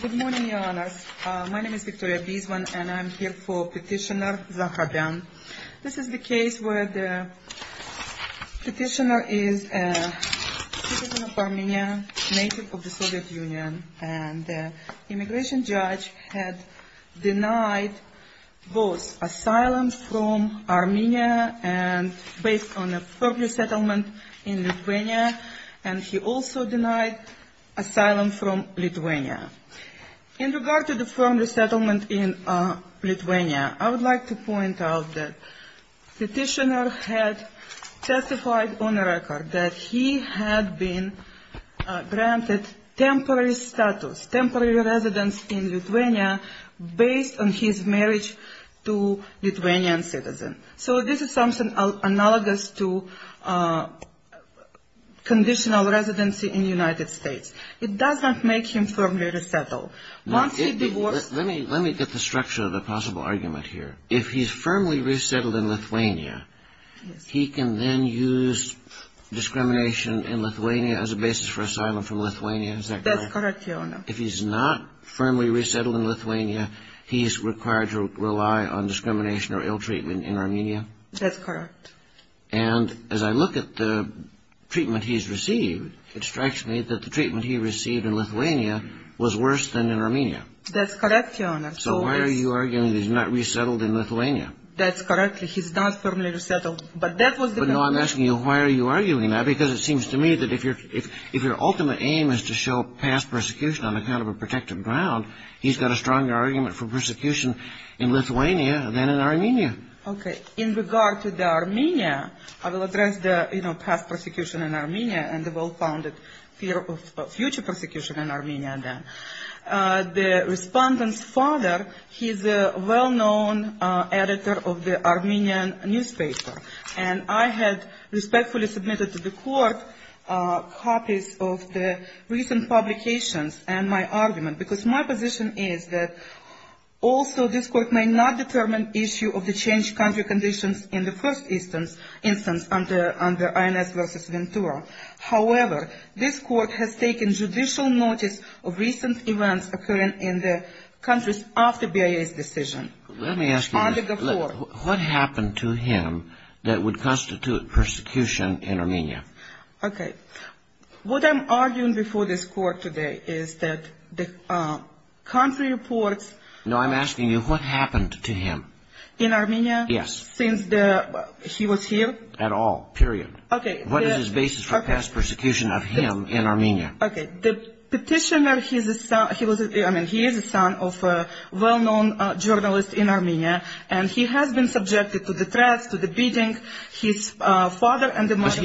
Good morning, Your Honours. My name is Victoria Beesman and I am here for Petitioner Zohrabyan. This is the case where the petitioner is a citizen of Armenia, native of the Soviet Union, and the immigration judge had denied both asylum from Armenia, and based on a firm resettlement in Lithuania, and he also denied asylum from Lithuania. In regard to the firm resettlement in Lithuania, I would like to point out that the petitioner had testified on a record that he had been granted temporary status, temporary residence in Lithuania, based on his marriage to a Lithuanian citizen. So this is something analogous to conditional residency in the United States. It does not make him firmly resettled. Let me get the structure of the possible argument here. If he is firmly resettled in Lithuania, he can then use discrimination in Lithuania as a basis for asylum from Lithuania? That's correct, Your Honours. If he is not firmly resettled in Lithuania, he is required to rely on discrimination or ill-treatment in Armenia? That's correct. And as I look at the treatment he has received, it strikes me that the treatment he received in Lithuania was worse than in Armenia. That's correct, Your Honours. So why are you arguing that he is not resettled in Lithuania? That's correct. He is not firmly resettled. But that was the argument. No, I'm asking you, why are you arguing that? Because it seems to me that if your ultimate aim is to show past persecution on account of a protected ground, he's got a stronger argument for persecution in Lithuania than in Armenia. Okay. In regard to the Armenia, I will address the past persecution in Armenia and the well-founded fear of future persecution in Armenia then. The respondent's father, he's a well-known editor of the Armenian newspaper. And I had respectfully submitted to the court copies of the recent publications and my argument, because my position is that also this court may not determine issue of the changed country conditions in the first instance under INS versus Ventura. However, this court has taken judicial notice of recent events occurring in the countries after BIA's decision. Let me ask you, what happened to him that would constitute persecution in Armenia? Okay. What I'm arguing before this court today is that the country reports... No, I'm asking you, what happened to him? In Armenia? Yes. Since he was here? At all. Period. Okay. What is his basis for past persecution of him in Armenia? Okay. The petitioner, he is a son of a well-known journalist in Armenia. And he has been subjected to the threats, to the beating, his father and the mother...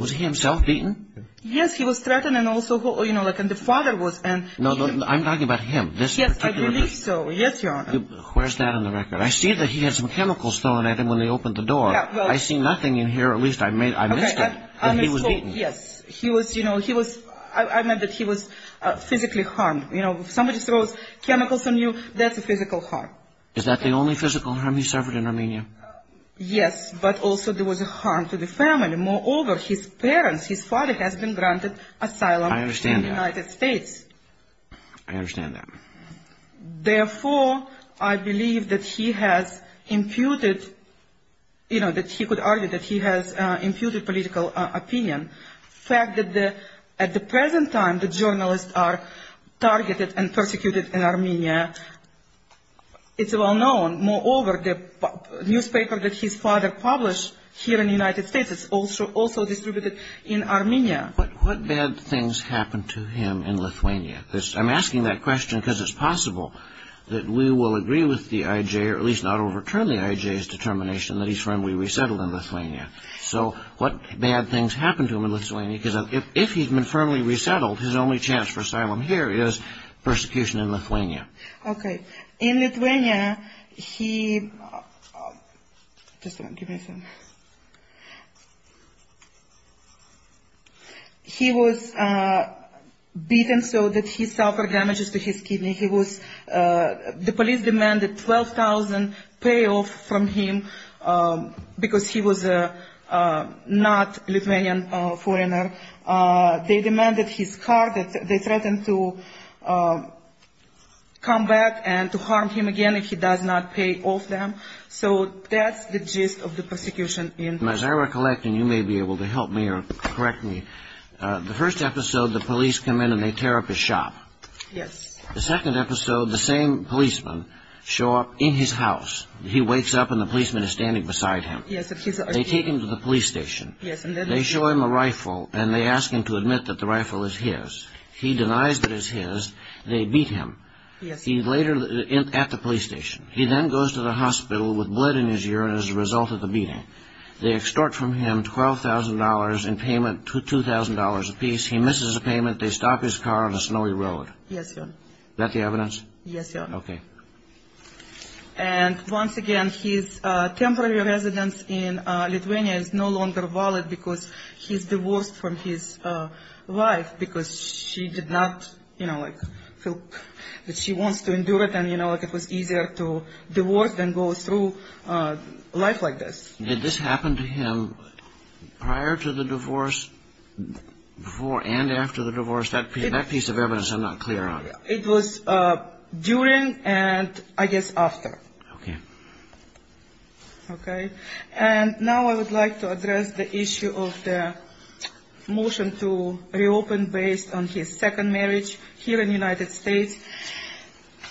Was he himself beaten? Yes, he was threatened and also, you know, and the father was... No, I'm talking about him. This particular... Yes, I believe so. Yes, Your Honor. Where's that on the record? I see that he had some chemicals thrown at him when they opened the door. I see nothing in here. At least I missed it. Okay. I missed all... That he was beaten. Yes. He was, you know, he was... I meant that he was physically harmed. You know, if somebody throws chemicals on you, that's a physical harm. Is that the only physical harm he suffered in Armenia? Yes, but also there was a harm to the family. Moreover, his parents, his father has been granted asylum... I understand that. ...in the United States. I understand that. Therefore, I believe that he has imputed, you know, that he could argue that he has imputed political opinion. The fact that at the present time the journalists are targeted and persecuted in Armenia, it's well known. Moreover, the newspaper that his father published here in the United States is also distributed in Armenia. What bad things happened to him in Lithuania? I'm asking that question because it's possible that we will agree with the IJ or at least not overturn the IJ's determination that he's firmly resettled in Lithuania. So what bad things happened to him in Lithuania? Because if he'd been firmly resettled, his only chance for asylum here is persecution in Lithuania. In Lithuania, he... He was beaten so that he suffered damages to his kidney. The police demanded 12,000 payoffs from him because he was not a Lithuanian foreigner. They demanded his car. They threatened to come back and to harm him again if he does not pay off them. So that's the gist of the persecution in... As I recollect, and you may be able to help me or correct me, the first episode, the police come in and they tear up his shop. Yes. The second episode, the same policemen show up in his house. He wakes up and the policemen are standing beside him. Yes. They take him to the police station. Yes. They show him a rifle and they ask him to admit that the rifle is his. He denies that it's his. They beat him. Yes. He's later at the police station. He then goes to the hospital with blood in his urine as a result of the beating. They extort from him $12,000 in payment, $2,000 apiece. He misses a payment. They stop his car on a snowy road. Yes, Your Honor. Is that the evidence? Yes, Your Honor. Okay. And once again, his temporary residence in Lithuania is no longer valid because he's divorced from his wife because she did not, you know, like she wants to endure it and, you know, like it was easier to divorce than go through life like this. Did this happen to him prior to the divorce, before and after the divorce? That piece of evidence I'm not clear on. It was during and I guess after. Okay. Okay. And now I would like to address the issue of the motion to reopen based on his second marriage here in the United States.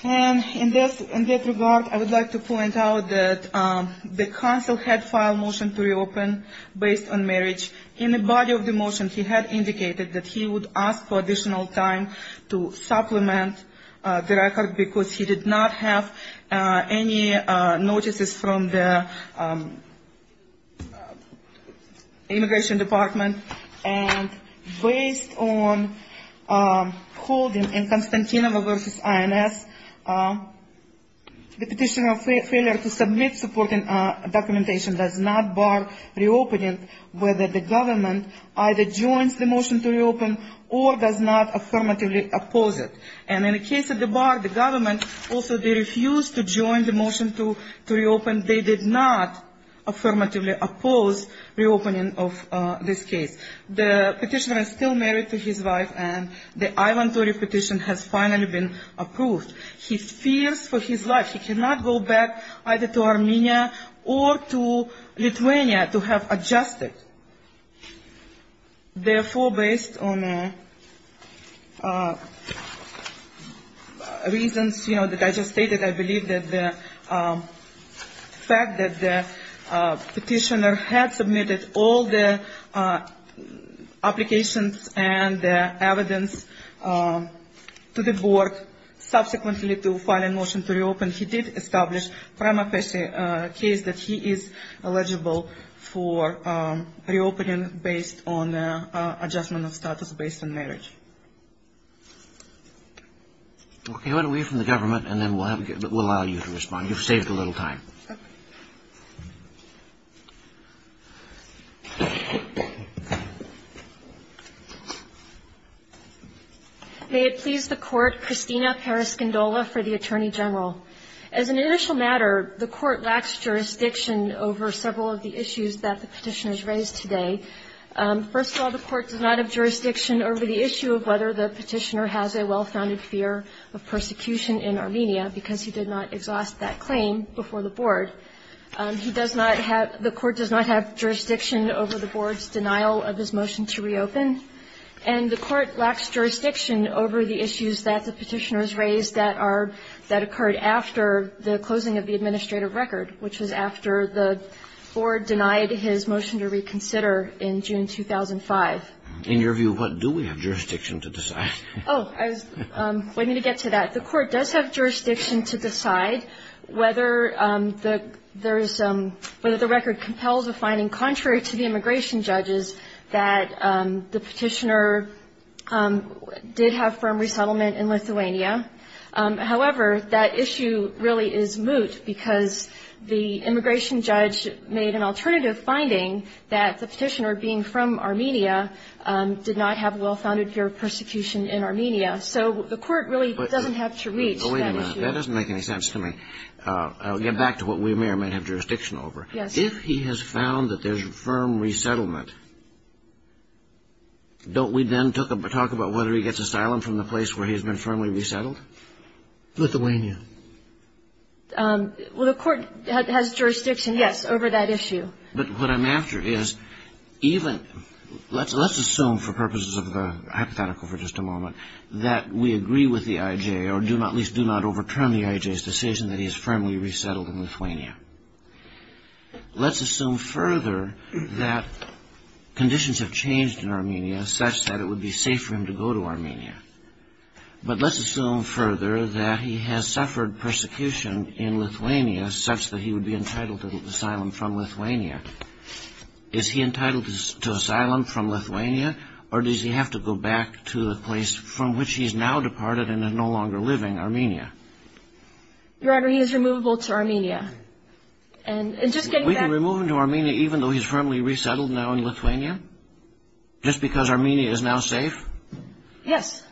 And in that regard, I would like to point out that the counsel had filed a motion to reopen based on marriage. In the body of the motion, he had indicated that he would ask for additional time to supplement the record because he did not have any notices from the immigration department. And based on holding in Constantino versus INS, the petitioner's failure to submit supporting documentation does not bar reopening, whether the government either joins the motion to reopen or does not affirmatively oppose it. And in the case of the bar, the government also refused to join the motion to reopen. They did not affirmatively oppose reopening of this case. The petitioner is still married to his wife, and the I-130 petition has finally been approved. He fears for his life. He cannot go back either to Armenia or to Lithuania to have adjusted. Therefore, based on reasons, you know, that I just stated, I believe that the fact that the petitioner had submitted all the applications and the evidence to the board, subsequently to file a motion to reopen, he did establish prima facie a case that he is eligible for reopening based on adjustment of status based on marriage. Okay, why don't we hear from the government, and then we'll allow you to respond. You've saved a little time. May it please the Court, Christina Periscindola for the Attorney General. As an initial matter, the Court lacks jurisdiction over several of the issues that the petitioners raised today. First of all, the Court does not have jurisdiction over the issue of whether the petitioner has a well-founded fear of persecution in Armenia because he did not exhaust that claim before the board. He does not have the Court does not have jurisdiction over the board's denial of his motion to reopen. And the Court lacks jurisdiction over the issues that the petitioners raised that are that occurred after the closing of the administrative record, which was after the board denied his motion to reconsider in June 2005. In your view, what do we have jurisdiction to decide? Oh, I was waiting to get to that. The Court does have jurisdiction to decide whether the record compels a finding contrary to the immigration judges that the petitioner did have firm resettlement in Lithuania. However, that issue really is moot because the immigration judge made an alternative finding that the petitioner being from Armenia did not have a well-founded fear of persecution in Armenia. So the Court really doesn't have to reach that issue. But wait a minute. That doesn't make any sense to me. I'll get back to what we may or may not have jurisdiction over. Yes. If he has found that there's firm resettlement, don't we then talk about whether he gets asylum from the place where he's been firmly resettled? Lithuania. Well, the Court has jurisdiction, yes, over that issue. But what I'm after is even... Let's assume for purposes of the hypothetical for just a moment that we agree with the IJ or at least do not overturn the IJ's decision that he is firmly resettled in Lithuania. Let's assume further that conditions have changed in Armenia such that it would be safe for him to go to Armenia. But let's assume further that he has suffered persecution in Lithuania such that he would be entitled to asylum from Lithuania. Is he entitled to asylum from Lithuania, or does he have to go back to the place from which he's now departed and is no longer living, Armenia? Your Honor, he is removable to Armenia. And just getting back... We can remove him to Armenia even though he's firmly resettled now in Lithuania? Just because Armenia is now safe? Yes.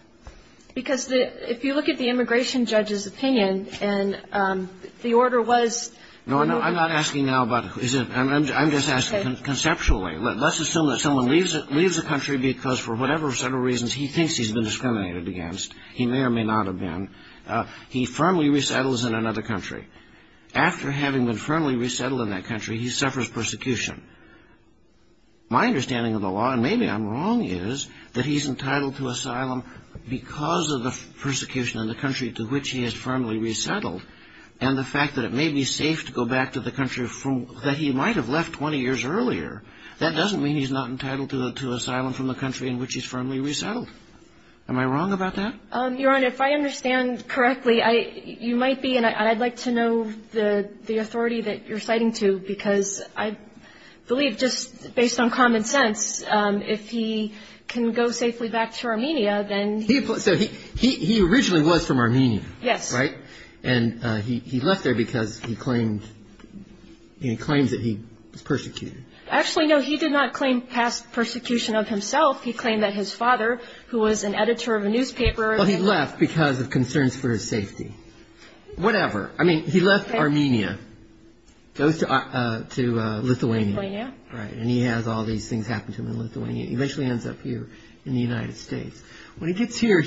Because if you look at the immigration judge's opinion, and the order was... No, I'm not asking now about... I'm just asking conceptually. Let's assume that someone leaves the country because for whatever set of reasons he thinks he's been discriminated against. He may or may not have been. He firmly resettles in another country. After having been firmly resettled in that country, he suffers persecution. My understanding of the law, and maybe I'm wrong, is that he's entitled to asylum because of the persecution in the country to which he is firmly resettled. And the fact that it may be safe to go back to the country that he might have left 20 years earlier, that doesn't mean he's not entitled to asylum from the country in which he's firmly resettled. Am I wrong about that? Your Honor, if I understand correctly, you might be, and I'd like to know the authority that you're citing to, because I believe just based on common sense, if he can go safely back to Armenia, then... So he originally was from Armenia. Yes. Right? And he left there because he claimed that he was persecuted. Actually, no, he did not claim past persecution of himself. He claimed that his father, who was an editor of a newspaper... Well, he left because of concerns for his safety. Whatever. I mean, he left Armenia, goes to Lithuania. Lithuania. Right. And he has all these things happen to him in Lithuania. He eventually ends up here in the United States. When he gets here,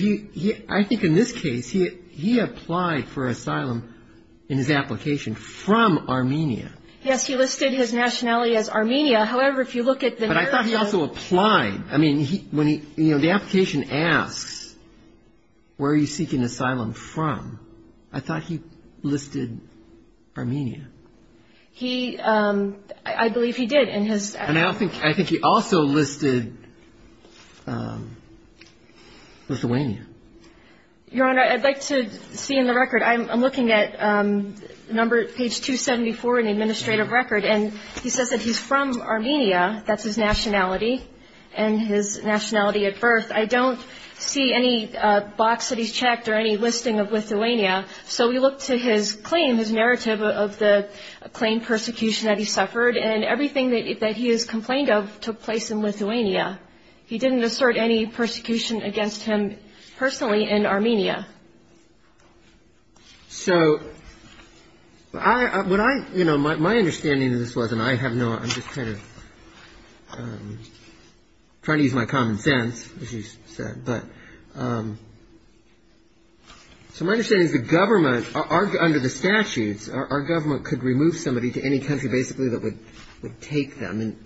I think in this case, he applied for asylum in his application from Armenia. Yes, he listed his nationality as Armenia. However, if you look at the narrative... But I thought he also applied. The application asks, where are you seeking asylum from? I thought he listed Armenia. I believe he did in his... And I think he also listed Lithuania. Your Honor, I'd like to see in the record. I'm looking at page 274 in the administrative record, and he says that he's from Armenia. That's his nationality and his nationality at birth. I don't see any box that he's checked or any listing of Lithuania. So we look to his claim, his narrative of the claimed persecution that he suffered, and everything that he is complained of took place in Lithuania. He didn't assert any persecution against him personally in Armenia. So what I, you know, my understanding of this was, and I have no... I'm just kind of trying to use my common sense, as you said. But so my understanding is the government, under the statutes, our government could remove somebody to any country basically that would take them and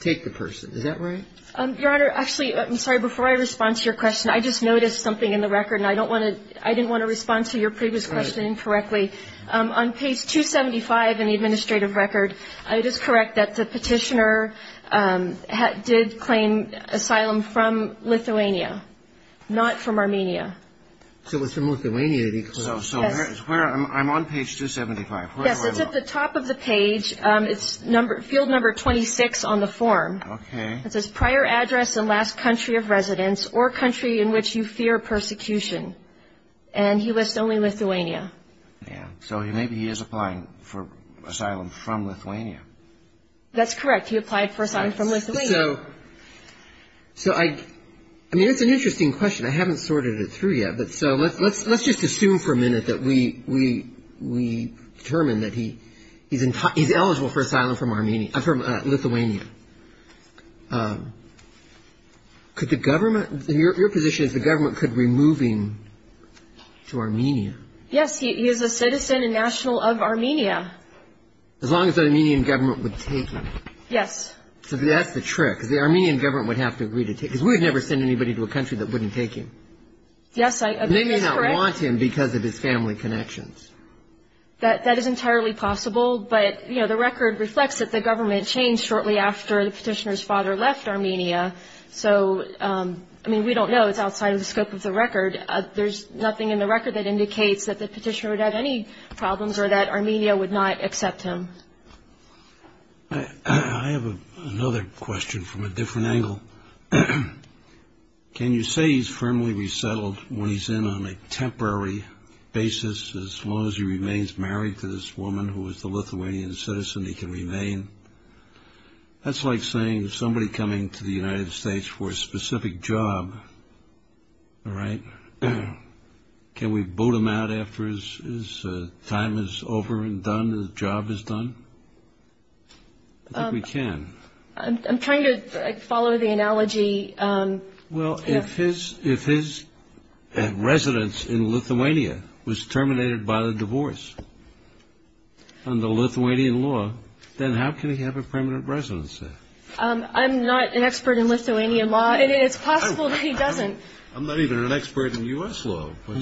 take the person. Is that right? Your Honor, actually, I'm sorry. Before I respond to your question, I just noticed something in the record, and I didn't want to respond to your previous question incorrectly. On page 275 in the administrative record, it is correct that the petitioner did claim asylum from Lithuania, not from Armenia. So it was from Lithuania that he claimed. So I'm on page 275. Yes, it's at the top of the page. It's field number 26 on the form. Okay. It says prior address and last country of residence or country in which you fear persecution. And he lists only Lithuania. Yeah. So maybe he is applying for asylum from Lithuania. That's correct. He applied for asylum from Lithuania. So I mean, it's an interesting question. I haven't sorted it through yet. Let's just assume for a minute that we determine that he's eligible for asylum from Lithuania. Your position is the government could remove him to Armenia. Yes. He is a citizen and national of Armenia. As long as the Armenian government would take him. Yes. So that's the trick, because the Armenian government would have to agree to take him, because we would never send anybody to a country that wouldn't take him. Yes, I agree. That's correct. And they may not want him because of his family connections. That is entirely possible, but, you know, the record reflects that the government changed shortly after the petitioner's father left Armenia. So, I mean, we don't know. It's outside of the scope of the record. There's nothing in the record that indicates that the petitioner would have any problems or that Armenia would not accept him. I have another question from a different angle. Can you say he's firmly resettled when he's in on a temporary basis, as long as he remains married to this woman who is the Lithuanian citizen he can remain? That's like saying somebody coming to the United States for a specific job, all right? Can we boot him out after his time is over and done, his job is done? I think we can. I'm trying to follow the analogy. Well, if his residence in Lithuania was terminated by the divorce under Lithuanian law, then how can he have a permanent residence there? I'm not an expert in Lithuanian law, and it's possible that he doesn't. I'm not even an expert in U.S. law. But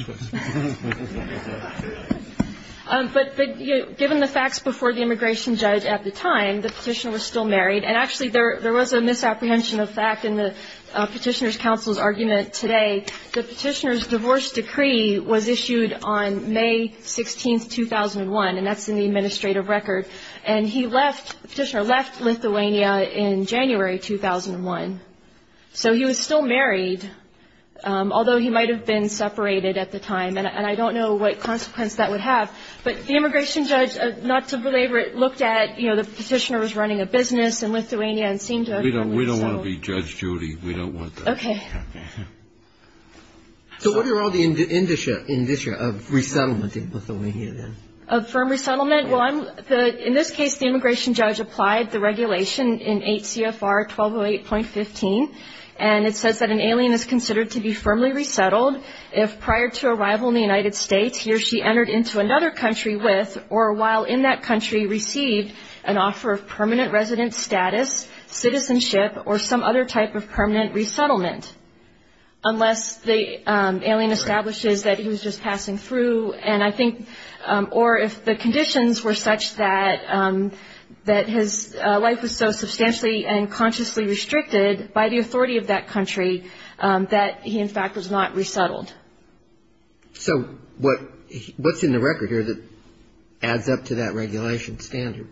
given the facts before the immigration judge at the time, the petitioner was still married, and actually there was a misapprehension of fact in the petitioner's counsel's argument today. The petitioner's divorce decree was issued on May 16, 2001, and that's in the administrative record. And he left, the petitioner left Lithuania in January 2001. So he was still married, although he might have been separated at the time, and I don't know what consequence that would have. But the immigration judge, not to belabor it, looked at, you know, the petitioner was running a business in Lithuania and seemed to have a family. We don't want to be Judge Judy. We don't want that. Okay. So what are all the indicia of resettlement in Lithuania then? Of firm resettlement? In this case, the immigration judge applied the regulation in 8 CFR 1208.15, and it says that an alien is considered to be firmly resettled if prior to arrival in the United States he or she entered into another country with or while in that country received an offer of permanent resident status, citizenship, or some other type of permanent resettlement, unless the alien establishes that he was just passing through. Or if the conditions were such that his life was so substantially and consciously restricted by the authority of that country that he, in fact, was not resettled. So what's in the record here that adds up to that regulation standard?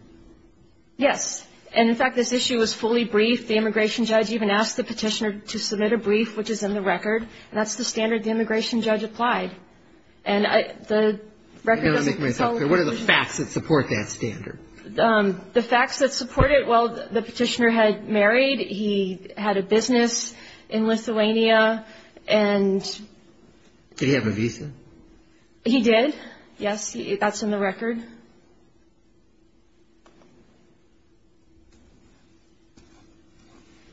Yes. And, in fact, this issue was fully briefed. The immigration judge even asked the petitioner to submit a brief, which is in the record, and that's the standard the immigration judge applied. And the record doesn't confound. What are the facts that support that standard? The facts that support it, well, the petitioner had married, he had a business in Lithuania, and... Did he have a visa? He did, yes. That's in the record.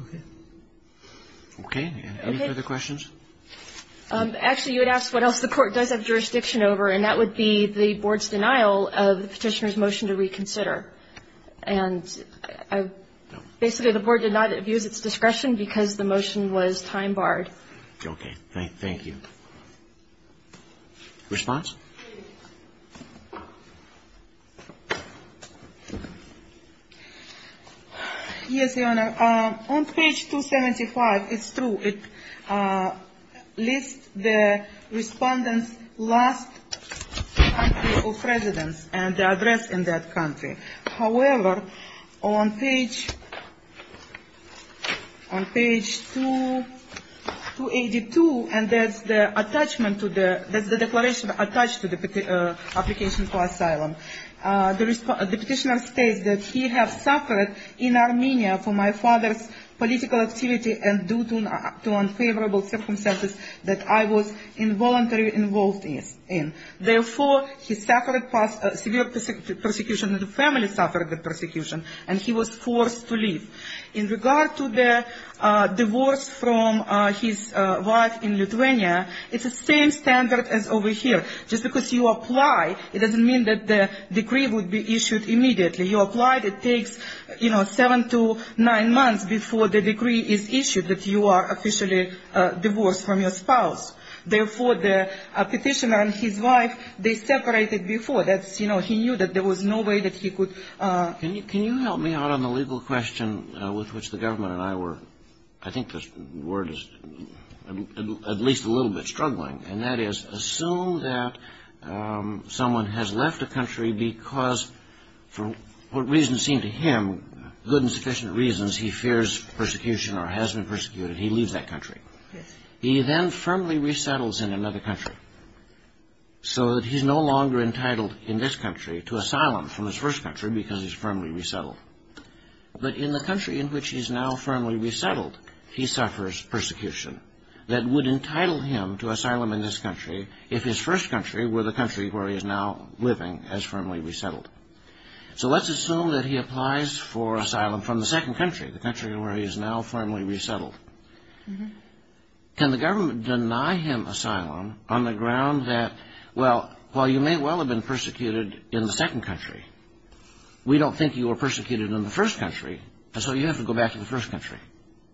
Okay. Okay. Any further questions? Actually, you would ask what else the Court does have jurisdiction over, and that would be the Board's denial of the petitioner's motion to reconsider. And basically, the Board did not abuse its discretion because the motion was time-barred. Okay. Thank you. Response? Yes, Your Honor. On page 275, it's true, it lists the respondent's last country of residence and the address in that country. However, on page 282, and that's the declaration attached to the application for asylum, the petitioner states that he has suffered in Armenia for my father's political activity and due to unfavorable circumstances that I was involuntarily involved in. Therefore, he suffered severe persecution, and the family suffered the persecution, and he was forced to leave. In regard to the divorce from his wife in Lithuania, it's the same standard as over here. Just because you apply, it doesn't mean that the decree would be issued immediately. You apply, it takes, you know, seven to nine months before the decree is issued, that you are officially divorced from your spouse. Therefore, the petitioner and his wife, they separated before. That's, you know, he knew that there was no way that he could. Can you help me out on the legal question with which the government and I were, I think the word is at least a little bit struggling, and that is assume that someone has left a country because, for what reasons seem to him good and sufficient reasons, he fears persecution or has been persecuted, he leaves that country. He then firmly resettles in another country so that he's no longer entitled in this country to asylum from his first country because he's firmly resettled. But in the country in which he's now firmly resettled, he suffers persecution that would entitle him to asylum in this country if his first country were the country where he is now living as firmly resettled. So let's assume that he applies for asylum from the second country, the country where he is now firmly resettled. Can the government deny him asylum on the ground that, well, while you may well have been persecuted in the second country, we don't think you were persecuted in the first country, and so you have to go back to the first country.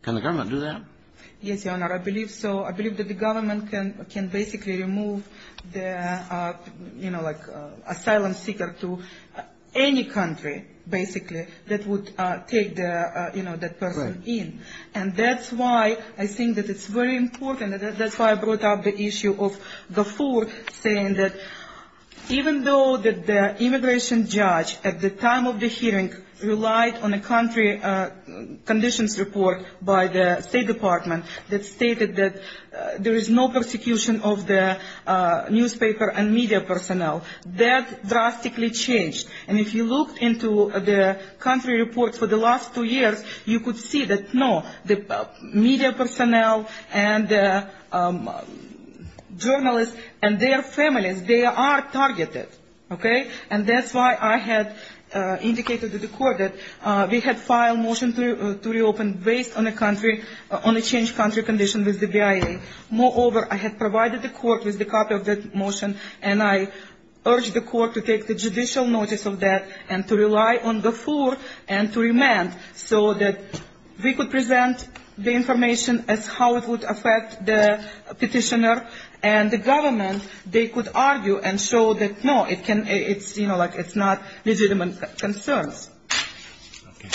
Can the government do that? Yes, Your Honor, I believe so. I believe that the government can basically remove the, you know, like asylum seeker to any country, basically, that would take the, you know, that person in. And that's why I think that it's very important. That's why I brought up the issue of Gafoor saying that even though the immigration judge at the time of the hearing relied on a country conditions report by the State Department that stated that there is no persecution of the newspaper and media personnel, that drastically changed. And if you looked into the country reports for the last two years, you could see that, no, the media personnel and journalists and their families, they are targeted, okay? And that's why I had indicated to the court that we had filed a motion to reopen based on a country, on a changed country condition with the BIA. Moreover, I had provided the court with a copy of that motion, and I urged the court to take the judicial notice of that and to rely on Gafoor and to remand so that we could present the information as how it would affect the petitioner And the government, they could argue and show that, no, it's, you know, like it's not legitimate concerns. Okay.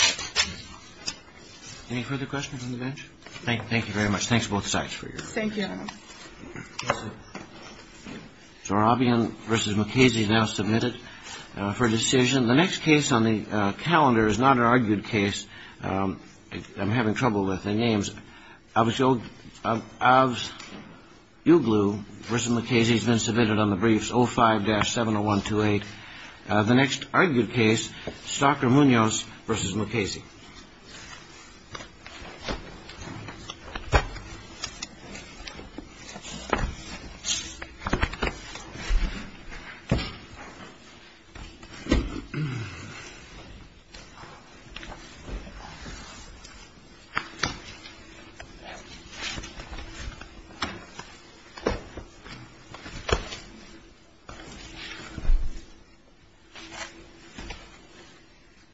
Any further questions on the bench? Thank you very much. Thanks to both sides for your time. Thank you. Zorabian v. McKasey now submitted for decision. The next case on the calendar is not an argued case. I'm having trouble with the names. Avoglu v. McKasey has been submitted on the briefs 05-70128. The next argued case, Stocker Munoz v. McKasey. Thank you.